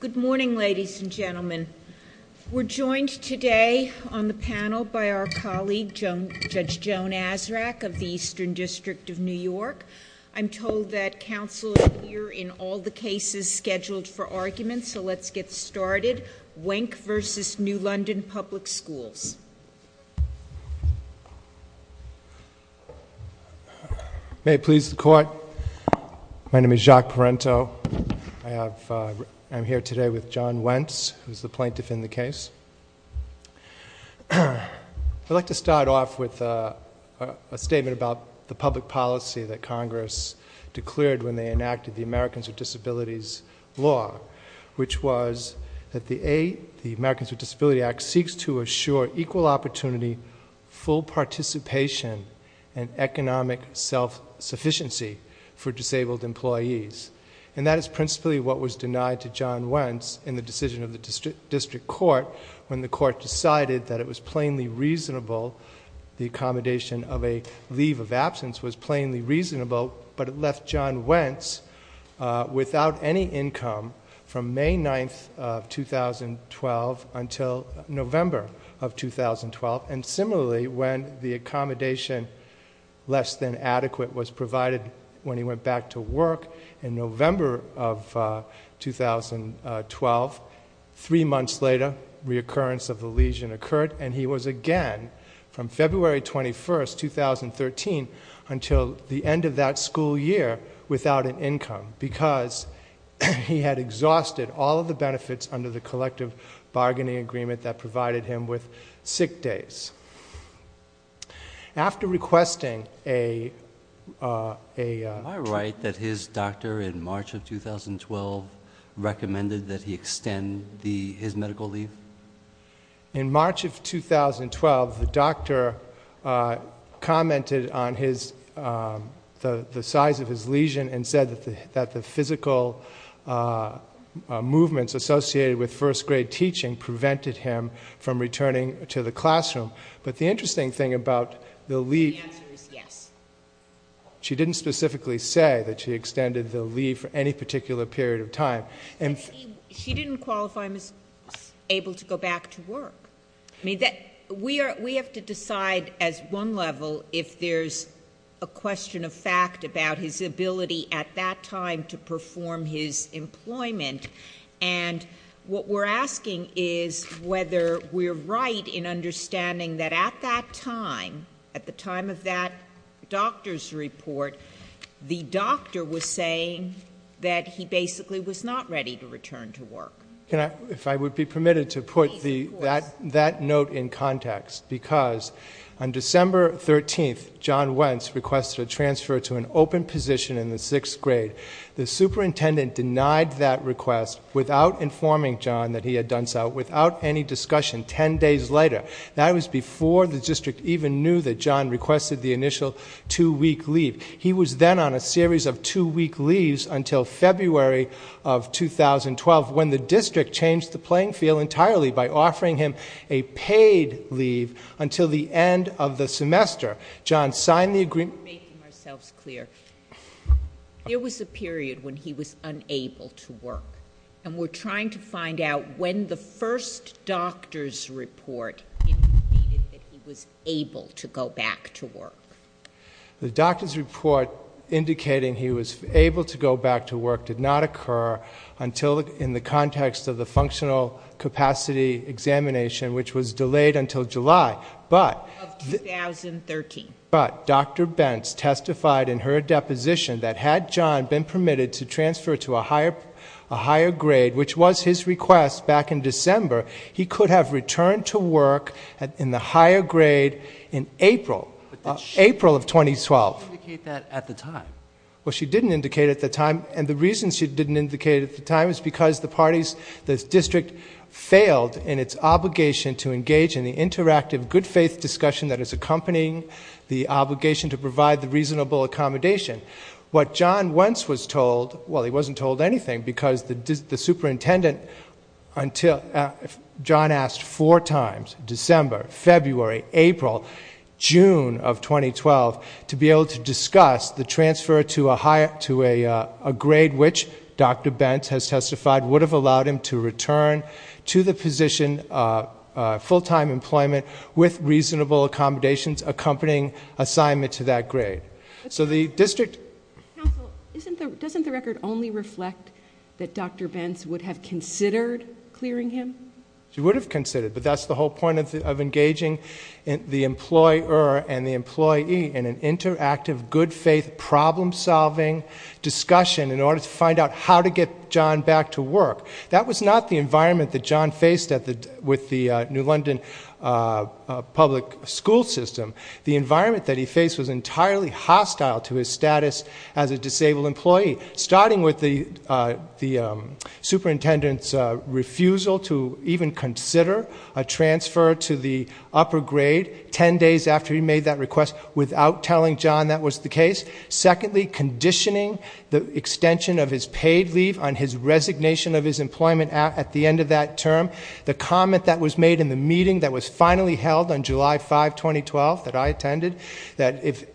Good morning, ladies and gentlemen. We're joined today on the panel by our colleague, Judge Joan Azarack of the Eastern District of New York. I'm told that counsel is here in all the cases scheduled for argument, so let's get started. Wenc v. New London Public Schools. May it please the court, my name is Jacques Parenteau. I'm here today with John Wenc, who's the plaintiff in the case. I'd like to start off with a statement about the public policy that Congress declared when they enacted the Americans with Disabilities Law, which was that the Americans with Disabilities Act seeks to assure equal opportunity, full participation, and economic self-sufficiency for disabled employees. And that is principally what was denied to John Wenc in the decision of the district court when the court decided that it was plainly reasonable, the accommodation of a leave of absence was plainly reasonable, but it left John Wenc without any income from May 9th of 2012 until November of 2012. And similarly, when the accommodation less than adequate was provided when he went back to work in November of 2012, three months later, reoccurrence of the lesion occurred, and he was again from February 21st, 2013, until the end of that school year without an income because he had exhausted all of the benefits under the collective bargaining agreement that provided him with sick days. After requesting a- Am I right that his doctor in March of 2012 recommended that he extend his medical leave? In March of 2012, the doctor commented on the size of his lesion and said that the physical movements associated with first grade teaching prevented him from returning to the classroom. But the interesting thing about the leave- The answer is yes. She didn't specifically say that she extended the leave for any particular period of time. She didn't qualify him as able to go back to work. We have to decide as one level if there's a question of fact about his ability at that time to perform his employment, and what we're asking is whether we're right in understanding that at that time, at the time of that doctor's report, the doctor was saying that he basically was not ready to return to work. If I would be permitted to put that note in context, because on December 13th, John Wentz requested a transfer to an open position in the sixth grade. The superintendent denied that request without informing John that he had done so, without any discussion, 10 days later. That was before the district even knew that John requested the initial two-week leave. He was then on a series of two-week leaves until February of 2012, when the district changed the playing field entirely by offering him a paid leave until the end of the semester. John signed the agreement- We're making ourselves clear. There was a period when he was unable to work, and we're trying to find out when the first doctor's report indicated that he was able to go back to work. The doctor's report indicating he was able to go back to work did not occur until in the context of the functional capacity examination, which was delayed until July, but- Of 2013. But Dr. Bentz testified in her deposition that had John been permitted to transfer to a higher grade, which was his request back in December, he could have returned to work in the higher grade in April of 2012. But she didn't indicate that at the time. Well, she didn't indicate it at the time, and the reason she didn't indicate it at the time is because the district failed in its obligation to engage in the interactive, good-faith discussion that is accompanying the obligation to provide the reasonable accommodation. What John Wentz was told- Well, he wasn't told anything because the superintendent- John asked four times- December, February, April, June of 2012- to be able to discuss the transfer to a grade which Dr. Bentz has testified would have allowed him to return to the position of full-time employment with reasonable accommodations accompanying assignment to that grade. So the district- Counsel, doesn't the record only reflect that Dr. Bentz would have considered clearing him? She would have considered, but that's the whole point of engaging the employer and the employee in an interactive, good-faith, problem-solving discussion in order to find out how to get John back to work. That was not the environment that John faced with the New London public school system. The environment that he faced was entirely hostile to his status as a disabled employee, starting with the superintendent's refusal to even consider a transfer to the upper grade ten days after he made that request without telling John that was the case. Secondly, conditioning the extension of his paid leave on his resignation of his employment at the end of that term. The comment that was made in the meeting that was finally held on July 5, 2012, that I attended, that if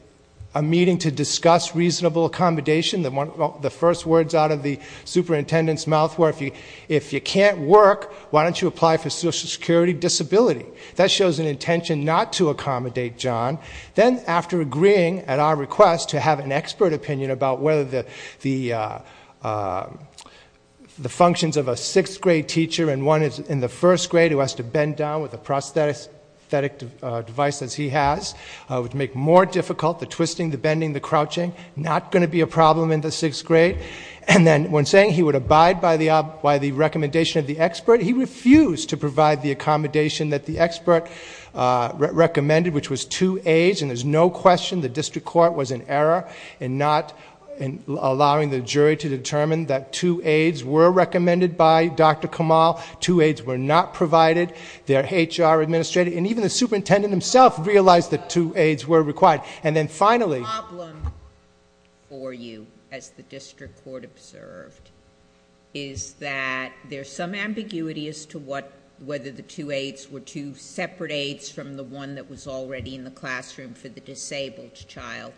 a meeting to discuss reasonable accommodation- the first words out of the superintendent's mouth were, if you can't work, why don't you apply for Social Security Disability? That shows an intention not to accommodate John. Then, after agreeing at our request to have an expert opinion about whether the functions of a sixth-grade teacher and one in the first grade who has to bend down with a prosthetic device, as he has, would make more difficult the twisting, the bending, the crouching- not going to be a problem in the sixth grade. And then, when saying he would abide by the recommendation of the expert, he refused to provide the accommodation that the expert recommended, which was two aids. And there's no question the district court was in error in not allowing the jury to determine that two aids were recommended by Dr. Kamal. Two aids were not provided. Their HR administrator, and even the superintendent himself, realized that two aids were required. The problem for you, as the district court observed, is that there's some ambiguity as to whether the two aids were two separate aids from the one that was already in the classroom for the disabled child.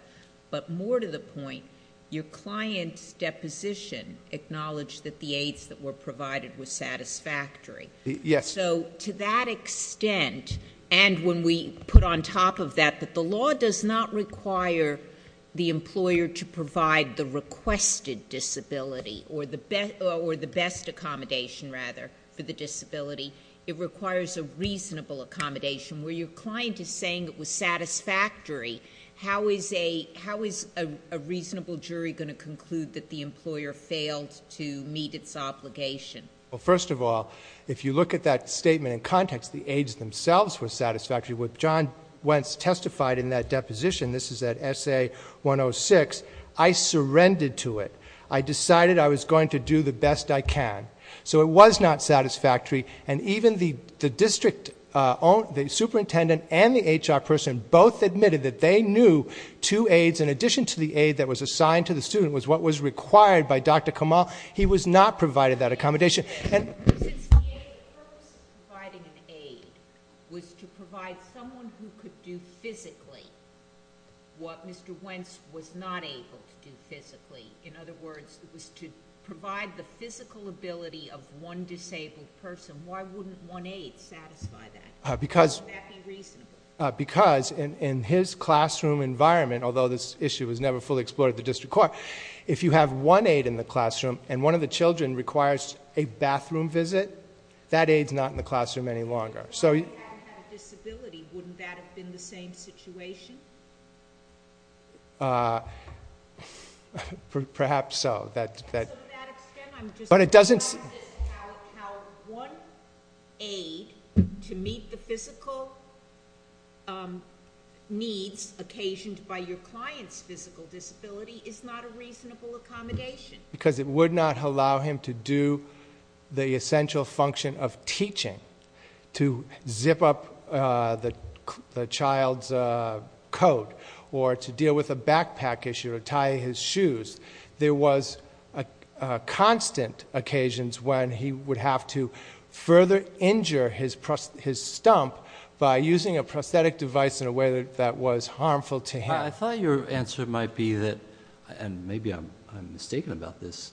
But more to the point, your client's deposition acknowledged that the aids that were provided were satisfactory. Yes. So, to that extent, and when we put on top of that that the law does not require the employer to provide the requested disability, or the best accommodation, rather, for the disability. It requires a reasonable accommodation. Where your client is saying it was satisfactory, how is a reasonable jury going to conclude that the employer failed to meet its obligation? Well, first of all, if you look at that statement in context, the aids themselves were satisfactory. What John Wentz testified in that deposition, this is at SA-106, I surrendered to it. I decided I was going to do the best I can. So it was not satisfactory. And even the district superintendent and the HR person both admitted that they knew two aids in addition to the aid that was assigned to the student was what was required by Dr. Kamal. He was not provided that accommodation. The purpose of providing an aid was to provide someone who could do physically what Mr. Wentz was not able to do physically. In other words, it was to provide the physical ability of one disabled person. Why wouldn't one aid satisfy that? Because in his classroom environment, although this issue was never fully explored at the district court, if you have one aid in the classroom and one of the children requires a bathroom visit, that aid is not in the classroom any longer. If the child hadn't had a disability, wouldn't that have been the same situation? Perhaps so. To that extent, I'm just suggesting how one aid to meet the physical needs occasioned by your client's physical disability is not a reasonable accommodation. Because it would not allow him to do the essential function of teaching, to zip up the child's coat or to deal with a backpack issue or tie his shoes. There was constant occasions when he would have to further injure his stump by using a prosthetic device in a way that was harmful to him. I thought your answer might be that, and maybe I'm mistaken about this,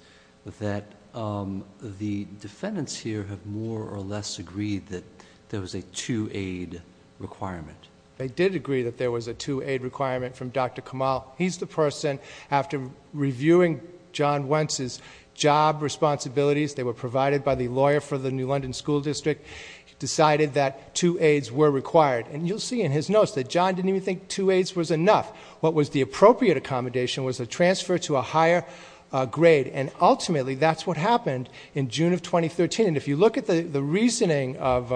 that the defendants here have more or less agreed that there was a two aid requirement. They did agree that there was a two aid requirement from Dr. Kamal. He's the person, after reviewing John Wentz's job responsibilities, they were provided by the lawyer for the New London School District, decided that two aids were required. And you'll see in his notes that John didn't even think two aids was enough. What was the appropriate accommodation was a transfer to a higher grade. And ultimately, that's what happened in June of 2013. And if you look at the reasoning of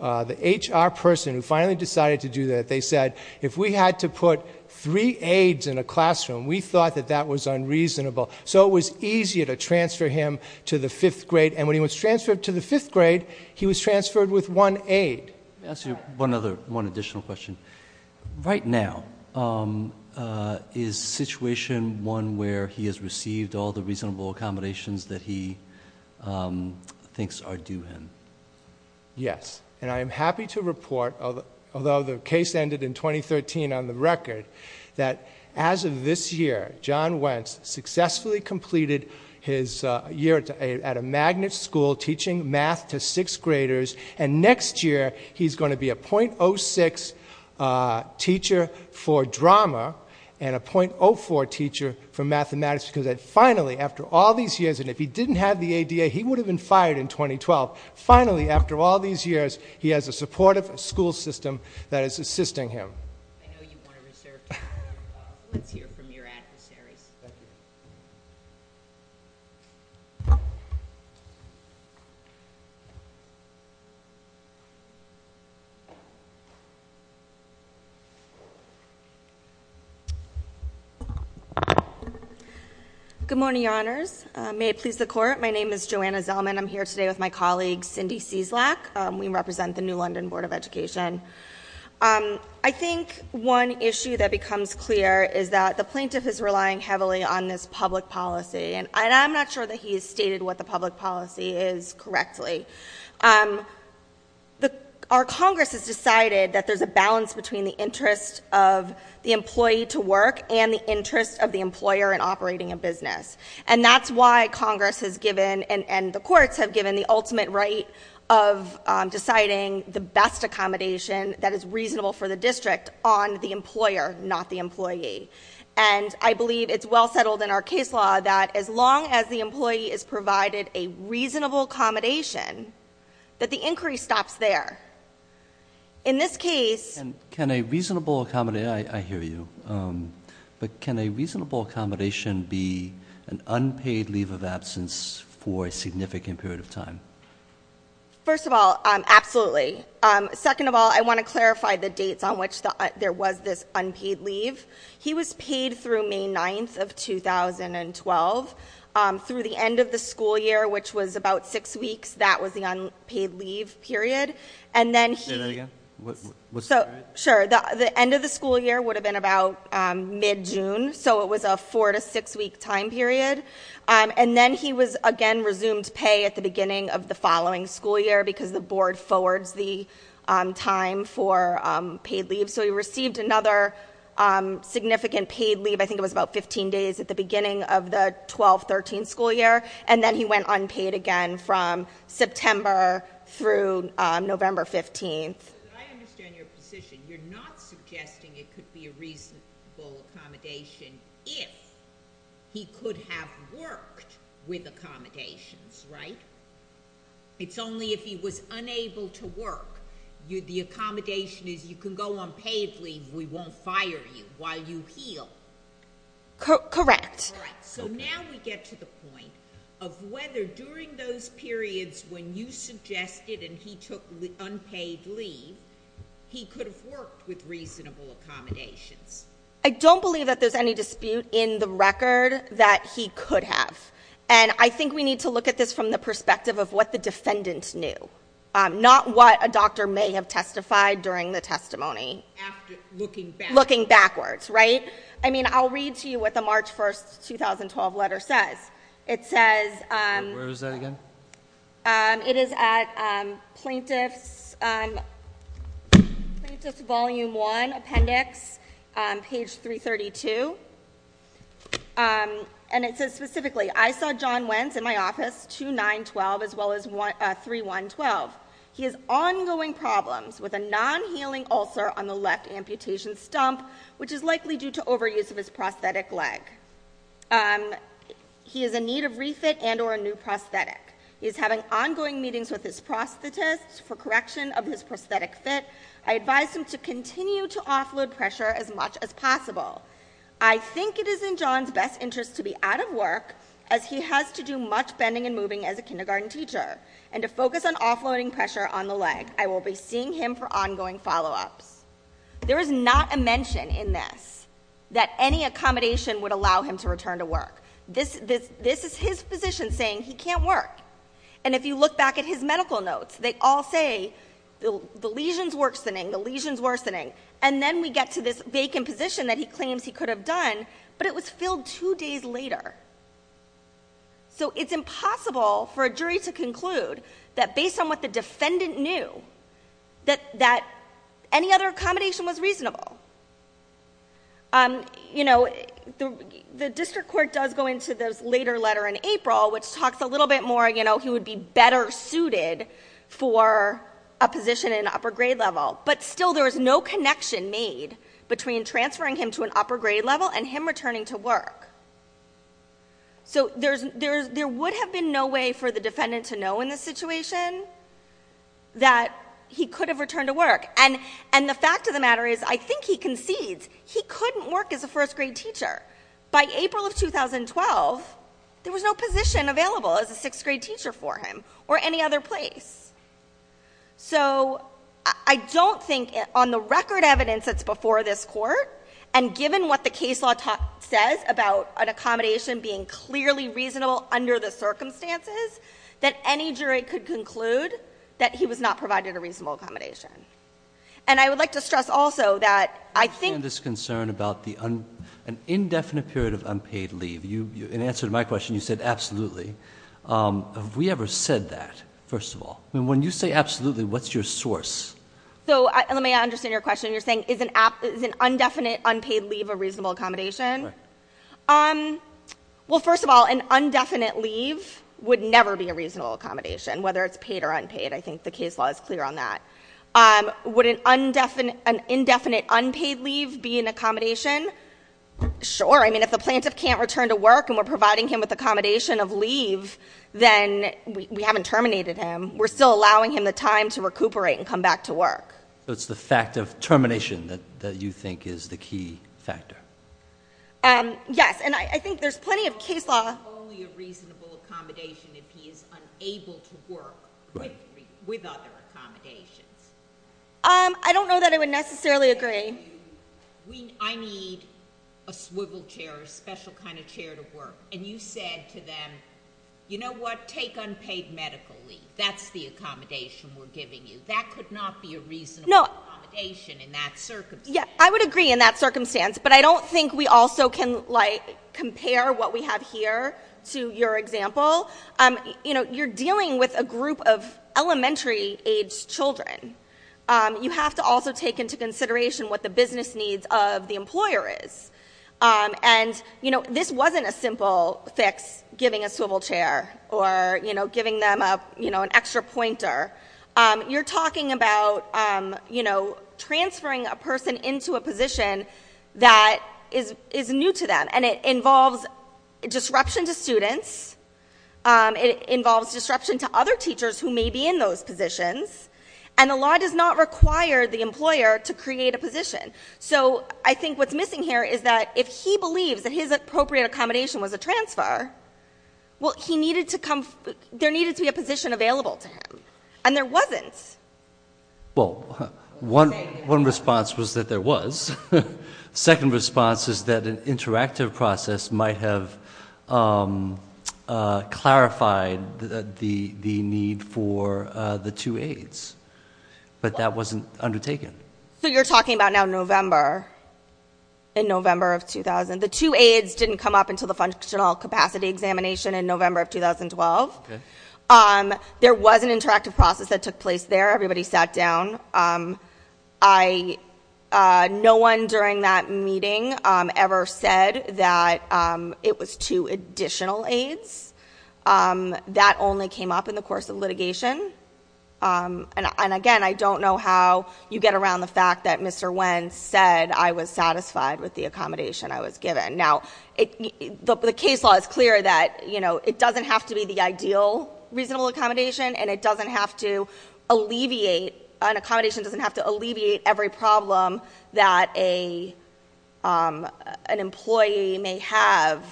the HR person who finally decided to do that, they said, if we had to put three aids in a classroom, we thought that that was unreasonable. So it was easier to transfer him to the fifth grade. And when he was transferred to the fifth grade, he was transferred with one aid. Let me ask you one additional question. Right now, is the situation one where he has received all the reasonable accommodations that he thinks are due him? Yes. And I am happy to report, although the case ended in 2013 on the record, that as of this year, John Wentz successfully completed his year at a magnet school, teaching math to sixth graders. And next year, he's going to be a .06 teacher for drama and a .04 teacher for mathematics because finally, after all these years, and if he didn't have the ADA, he would have been fired in 2012. Finally, after all these years, he has a supportive school system that is assisting him. I know you want to reserve time. Let's hear from your adversaries. Thank you. Good morning, Your Honors. May it please the Court. My name is Joanna Zellman. I'm here today with my colleague, Cindy Cieslak. We represent the New London Board of Education. I think one issue that becomes clear is that the plaintiff is relying heavily on this public policy, and I'm not sure that he has stated what the public policy is correctly. Our Congress has decided that there's a balance between the interest of the employee to work and the interest of the employer in operating a business, and that's why Congress has given and the courts have given the ultimate right of deciding the best accommodation that is reasonable for the district on the employer, not the employee. And I believe it's well settled in our case law that as long as the employee is provided a reasonable accommodation, that the inquiry stops there. In this case— Can a reasonable accommodation—I hear you. But can a reasonable accommodation be an unpaid leave of absence for a significant period of time? First of all, absolutely. Second of all, I want to clarify the dates on which there was this unpaid leave. He was paid through May 9th of 2012. Through the end of the school year, which was about six weeks, that was the unpaid leave period. Say that again? Sure. The end of the school year would have been about mid-June, so it was a four- to six-week time period. And then he was again resumed pay at the beginning of the following school year because the board forwards the time for paid leave. So he received another significant paid leave. I think it was about 15 days at the beginning of the 12-13 school year. And then he went unpaid again from September through November 15th. I understand your position. You're not suggesting it could be a reasonable accommodation if he could have worked with accommodations, right? It's only if he was unable to work. The accommodation is you can go on paid leave. We won't fire you while you heal. Correct. So now we get to the point of whether during those periods when you suggested and he took unpaid leave, he could have worked with reasonable accommodations. I don't believe that there's any dispute in the record that he could have. And I think we need to look at this from the perspective of what the defendant knew, not what a doctor may have testified during the testimony, looking backwards, right? I mean, I'll read to you what the March 1st, 2012 letter says. It says- Where is that again? It is at Plaintiff's Volume 1 Appendix, page 332. And it says specifically, I saw John Wentz in my office 2-9-12 as well as 3-1-12. He has ongoing problems with a non-healing ulcer on the left amputation stump, which is likely due to overuse of his prosthetic leg. He is in need of refit and or a new prosthetic. He is having ongoing meetings with his prosthetist for correction of his prosthetic fit. I advise him to continue to offload pressure as much as possible. I think it is in John's best interest to be out of work as he has to do much bending and moving as a kindergarten teacher and to focus on offloading pressure on the leg. I will be seeing him for ongoing follow-ups. There is not a mention in this that any accommodation would allow him to return to work. This is his physician saying he can't work. And if you look back at his medical notes, they all say the lesion is worsening, the lesion is worsening. And then we get to this vacant position that he claims he could have done, but it was filled two days later. So it's impossible for a jury to conclude that based on what the defendant knew, that any other accommodation was reasonable. You know, the district court does go into this later letter in April, which talks a little bit more, you know, he would be better suited for a position in an upper grade level. But still there is no connection made between transferring him to an upper grade level and him returning to work. So there would have been no way for the defendant to know in this situation that he could have returned to work. And the fact of the matter is I think he concedes he couldn't work as a first grade teacher. By April of 2012, there was no position available as a sixth grade teacher for him or any other place. So I don't think on the record evidence that's before this court, and given what the case law says about an accommodation being clearly reasonable under the circumstances, that any jury could conclude that he was not provided a reasonable accommodation. And I would like to stress also that I think- I understand this concern about an indefinite period of unpaid leave. In answer to my question, you said absolutely. Have we ever said that, first of all? I mean, when you say absolutely, what's your source? So let me understand your question. You're saying is an indefinite unpaid leave a reasonable accommodation? Right. Well, first of all, an indefinite leave would never be a reasonable accommodation, whether it's paid or unpaid. I think the case law is clear on that. Would an indefinite unpaid leave be an accommodation? Sure. I mean, if the plaintiff can't return to work and we're providing him with accommodation of leave, then we haven't terminated him. We're still allowing him the time to recuperate and come back to work. So it's the fact of termination that you think is the key factor. Yes. And I think there's plenty of case law- It's only a reasonable accommodation if he is unable to work with other accommodations. I don't know that I would necessarily agree. I need a swivel chair, a special kind of chair to work. And you said to them, you know what, take unpaid medical leave. That's the accommodation we're giving you. That could not be a reasonable accommodation in that circumstance. Yeah, I would agree in that circumstance, but I don't think we also can, like, compare what we have here to your example. You know, you're dealing with a group of elementary-aged children. You have to also take into consideration what the business needs of the employer is. And, you know, this wasn't a simple fix, giving a swivel chair or, you know, giving them, you know, an extra pointer. You're talking about, you know, transferring a person into a position that is new to them. And it involves disruption to students. It involves disruption to other teachers who may be in those positions. And the law does not require the employer to create a position. So I think what's missing here is that if he believes that his appropriate accommodation was a transfer, well, he needed to come, there needed to be a position available to him. And there wasn't. Well, one response was that there was. Second response is that an interactive process might have clarified the need for the two aids. But that wasn't undertaken. So you're talking about now November, in November of 2000. The two aids didn't come up until the functional capacity examination in November of 2012. There was an interactive process that took place there. Everybody sat down. No one during that meeting ever said that it was two additional aids. That only came up in the course of litigation. And, again, I don't know how you get around the fact that Mr. Wen said I was satisfied with the accommodation I was given. Now, the case law is clear that, you know, it doesn't have to be the ideal reasonable accommodation. And it doesn't have to alleviate, an accommodation doesn't have to alleviate every problem that an employee may have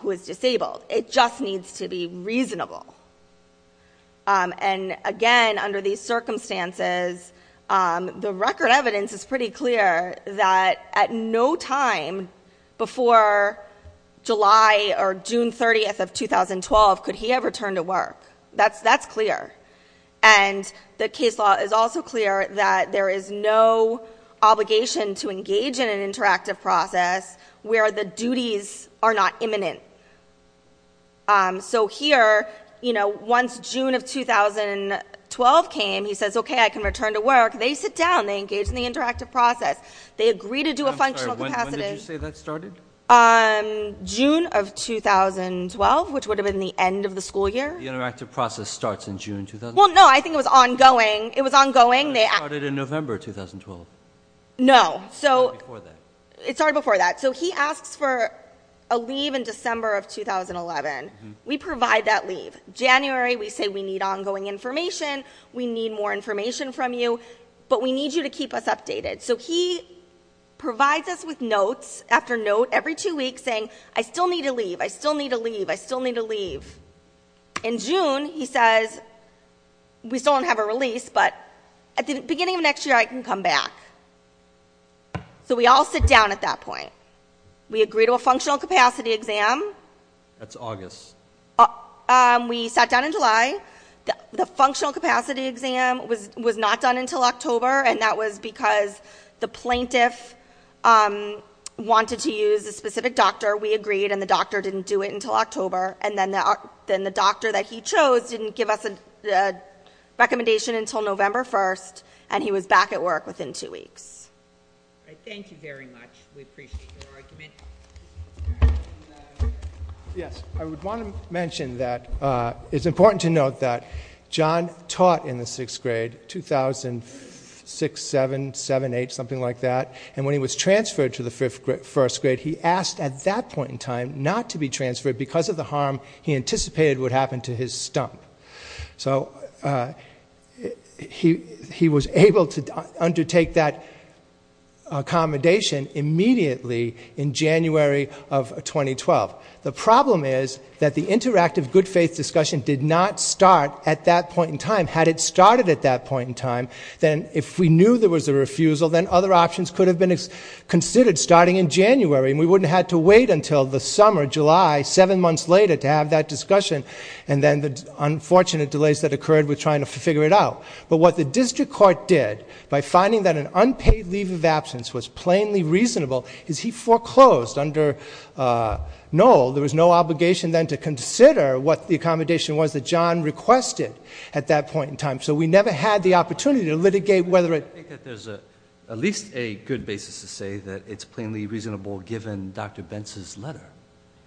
who is disabled. It just needs to be reasonable. And, again, under these circumstances, the record evidence is pretty clear that at no time before July or June 30th of 2012 could he have returned to work. That's clear. And the case law is also clear that there is no obligation to engage in an interactive process where the duties are not imminent. So here, you know, once June of 2012 came, he says, okay, I can return to work. They sit down. They engage in the interactive process. They agree to do a functional capacity. When did you say that started? June of 2012, which would have been the end of the school year. The interactive process starts in June 2012? Well, no, I think it was ongoing. It was ongoing. It started in November 2012. No. It started before that. So he asks for a leave in December of 2011. We provide that leave. January, we say we need ongoing information. We need more information from you. But we need you to keep us updated. So he provides us with notes after note every two weeks saying, I still need to leave. I still need to leave. I still need to leave. In June, he says, we still don't have a release, but at the beginning of next year, I can come back. So we all sit down at that point. We agree to a functional capacity exam. That's August. We sat down in July. The functional capacity exam was not done until October, and that was because the plaintiff wanted to use a specific doctor. We agreed, and the doctor didn't do it until October. And then the doctor that he chose didn't give us a recommendation until November 1st, and he was back at work within two weeks. Thank you very much. We appreciate your argument. Yes. I would want to mention that it's important to note that John taught in the sixth grade, 2006, 7, 7, 8, something like that. And when he was transferred to the first grade, he asked at that point in time not to be transferred because of the harm he anticipated would happen to his stump. So he was able to undertake that accommodation immediately in January of 2012. The problem is that the interactive good faith discussion did not start at that point in time. Had it started at that point in time, then if we knew there was a refusal, then other options could have been considered starting in January, and we wouldn't have had to wait until the summer, July, seven months later to have that discussion, and then the unfortunate delays that occurred with trying to figure it out. But what the district court did, by finding that an unpaid leave of absence was plainly reasonable, is he foreclosed. No. There was no obligation then to consider what the accommodation was that John requested at that point in time. So we never had the opportunity to litigate whether it. I think that there's at least a good basis to say that it's plainly reasonable given Dr. Benz's letter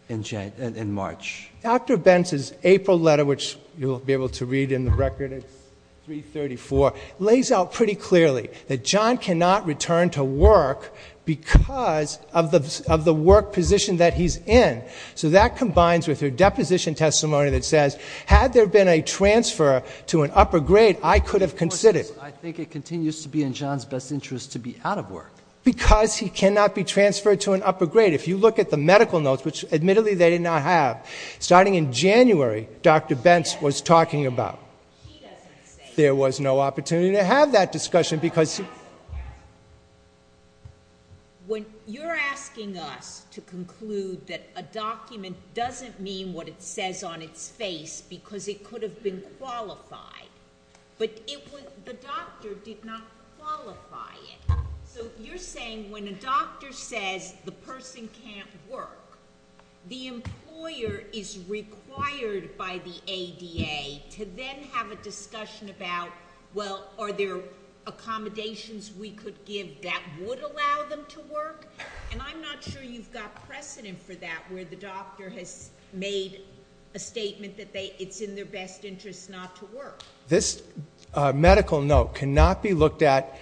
in March. Dr. Benz's April letter, which you'll be able to read in the record, it's 334, lays out pretty clearly that John cannot return to work because of the work position that he's in. So that combines with her deposition testimony that says, had there been a transfer to an upper grade, I could have considered. I think it continues to be in John's best interest to be out of work. Because he cannot be transferred to an upper grade. If you look at the medical notes, which admittedly they did not have, starting in January, Dr. Benz was talking about. There was no opportunity to have that discussion because. When you're asking us to conclude that a document doesn't mean what it says on its face because it could have been qualified. But the doctor did not qualify it. So you're saying when a doctor says the person can't work, the employer is required by the ADA to then have a discussion about, well, are there accommodations we could give that would allow them to work? And I'm not sure you've got precedent for that where the doctor has made a statement that it's in their best interest not to work. This medical note cannot be looked at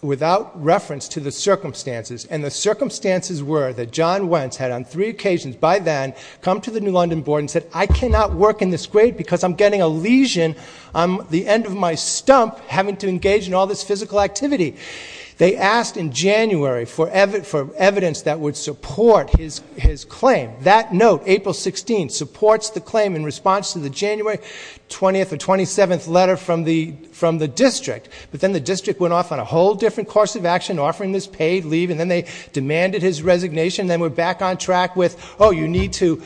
without reference to the circumstances. And the circumstances were that John Wentz had, on three occasions by then, come to the New London board and said, I cannot work in this grade because I'm getting a lesion. I'm at the end of my stump having to engage in all this physical activity. They asked in January for evidence that would support his claim. That note, April 16th, supports the claim in response to the January 20th or 27th letter from the district. But then the district went off on a whole different course of action, offering this paid leave, and then they demanded his resignation. Then we're back on track with, you need to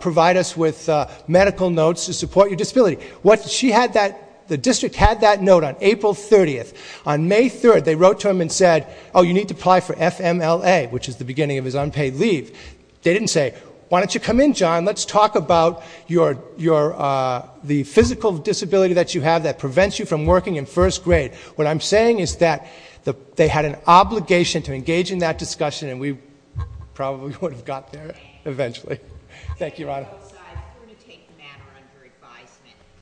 provide us with medical notes to support your disability. What she had that, the district had that note on April 30th. On May 3rd, they wrote to him and said, you need to apply for FMLA, which is the beginning of his unpaid leave. They didn't say, why don't you come in, John? Let's talk about the physical disability that you have that prevents you from working in first grade. What I'm saying is that they had an obligation to engage in that discussion, and we probably would have got there eventually. Thank you, Your Honor.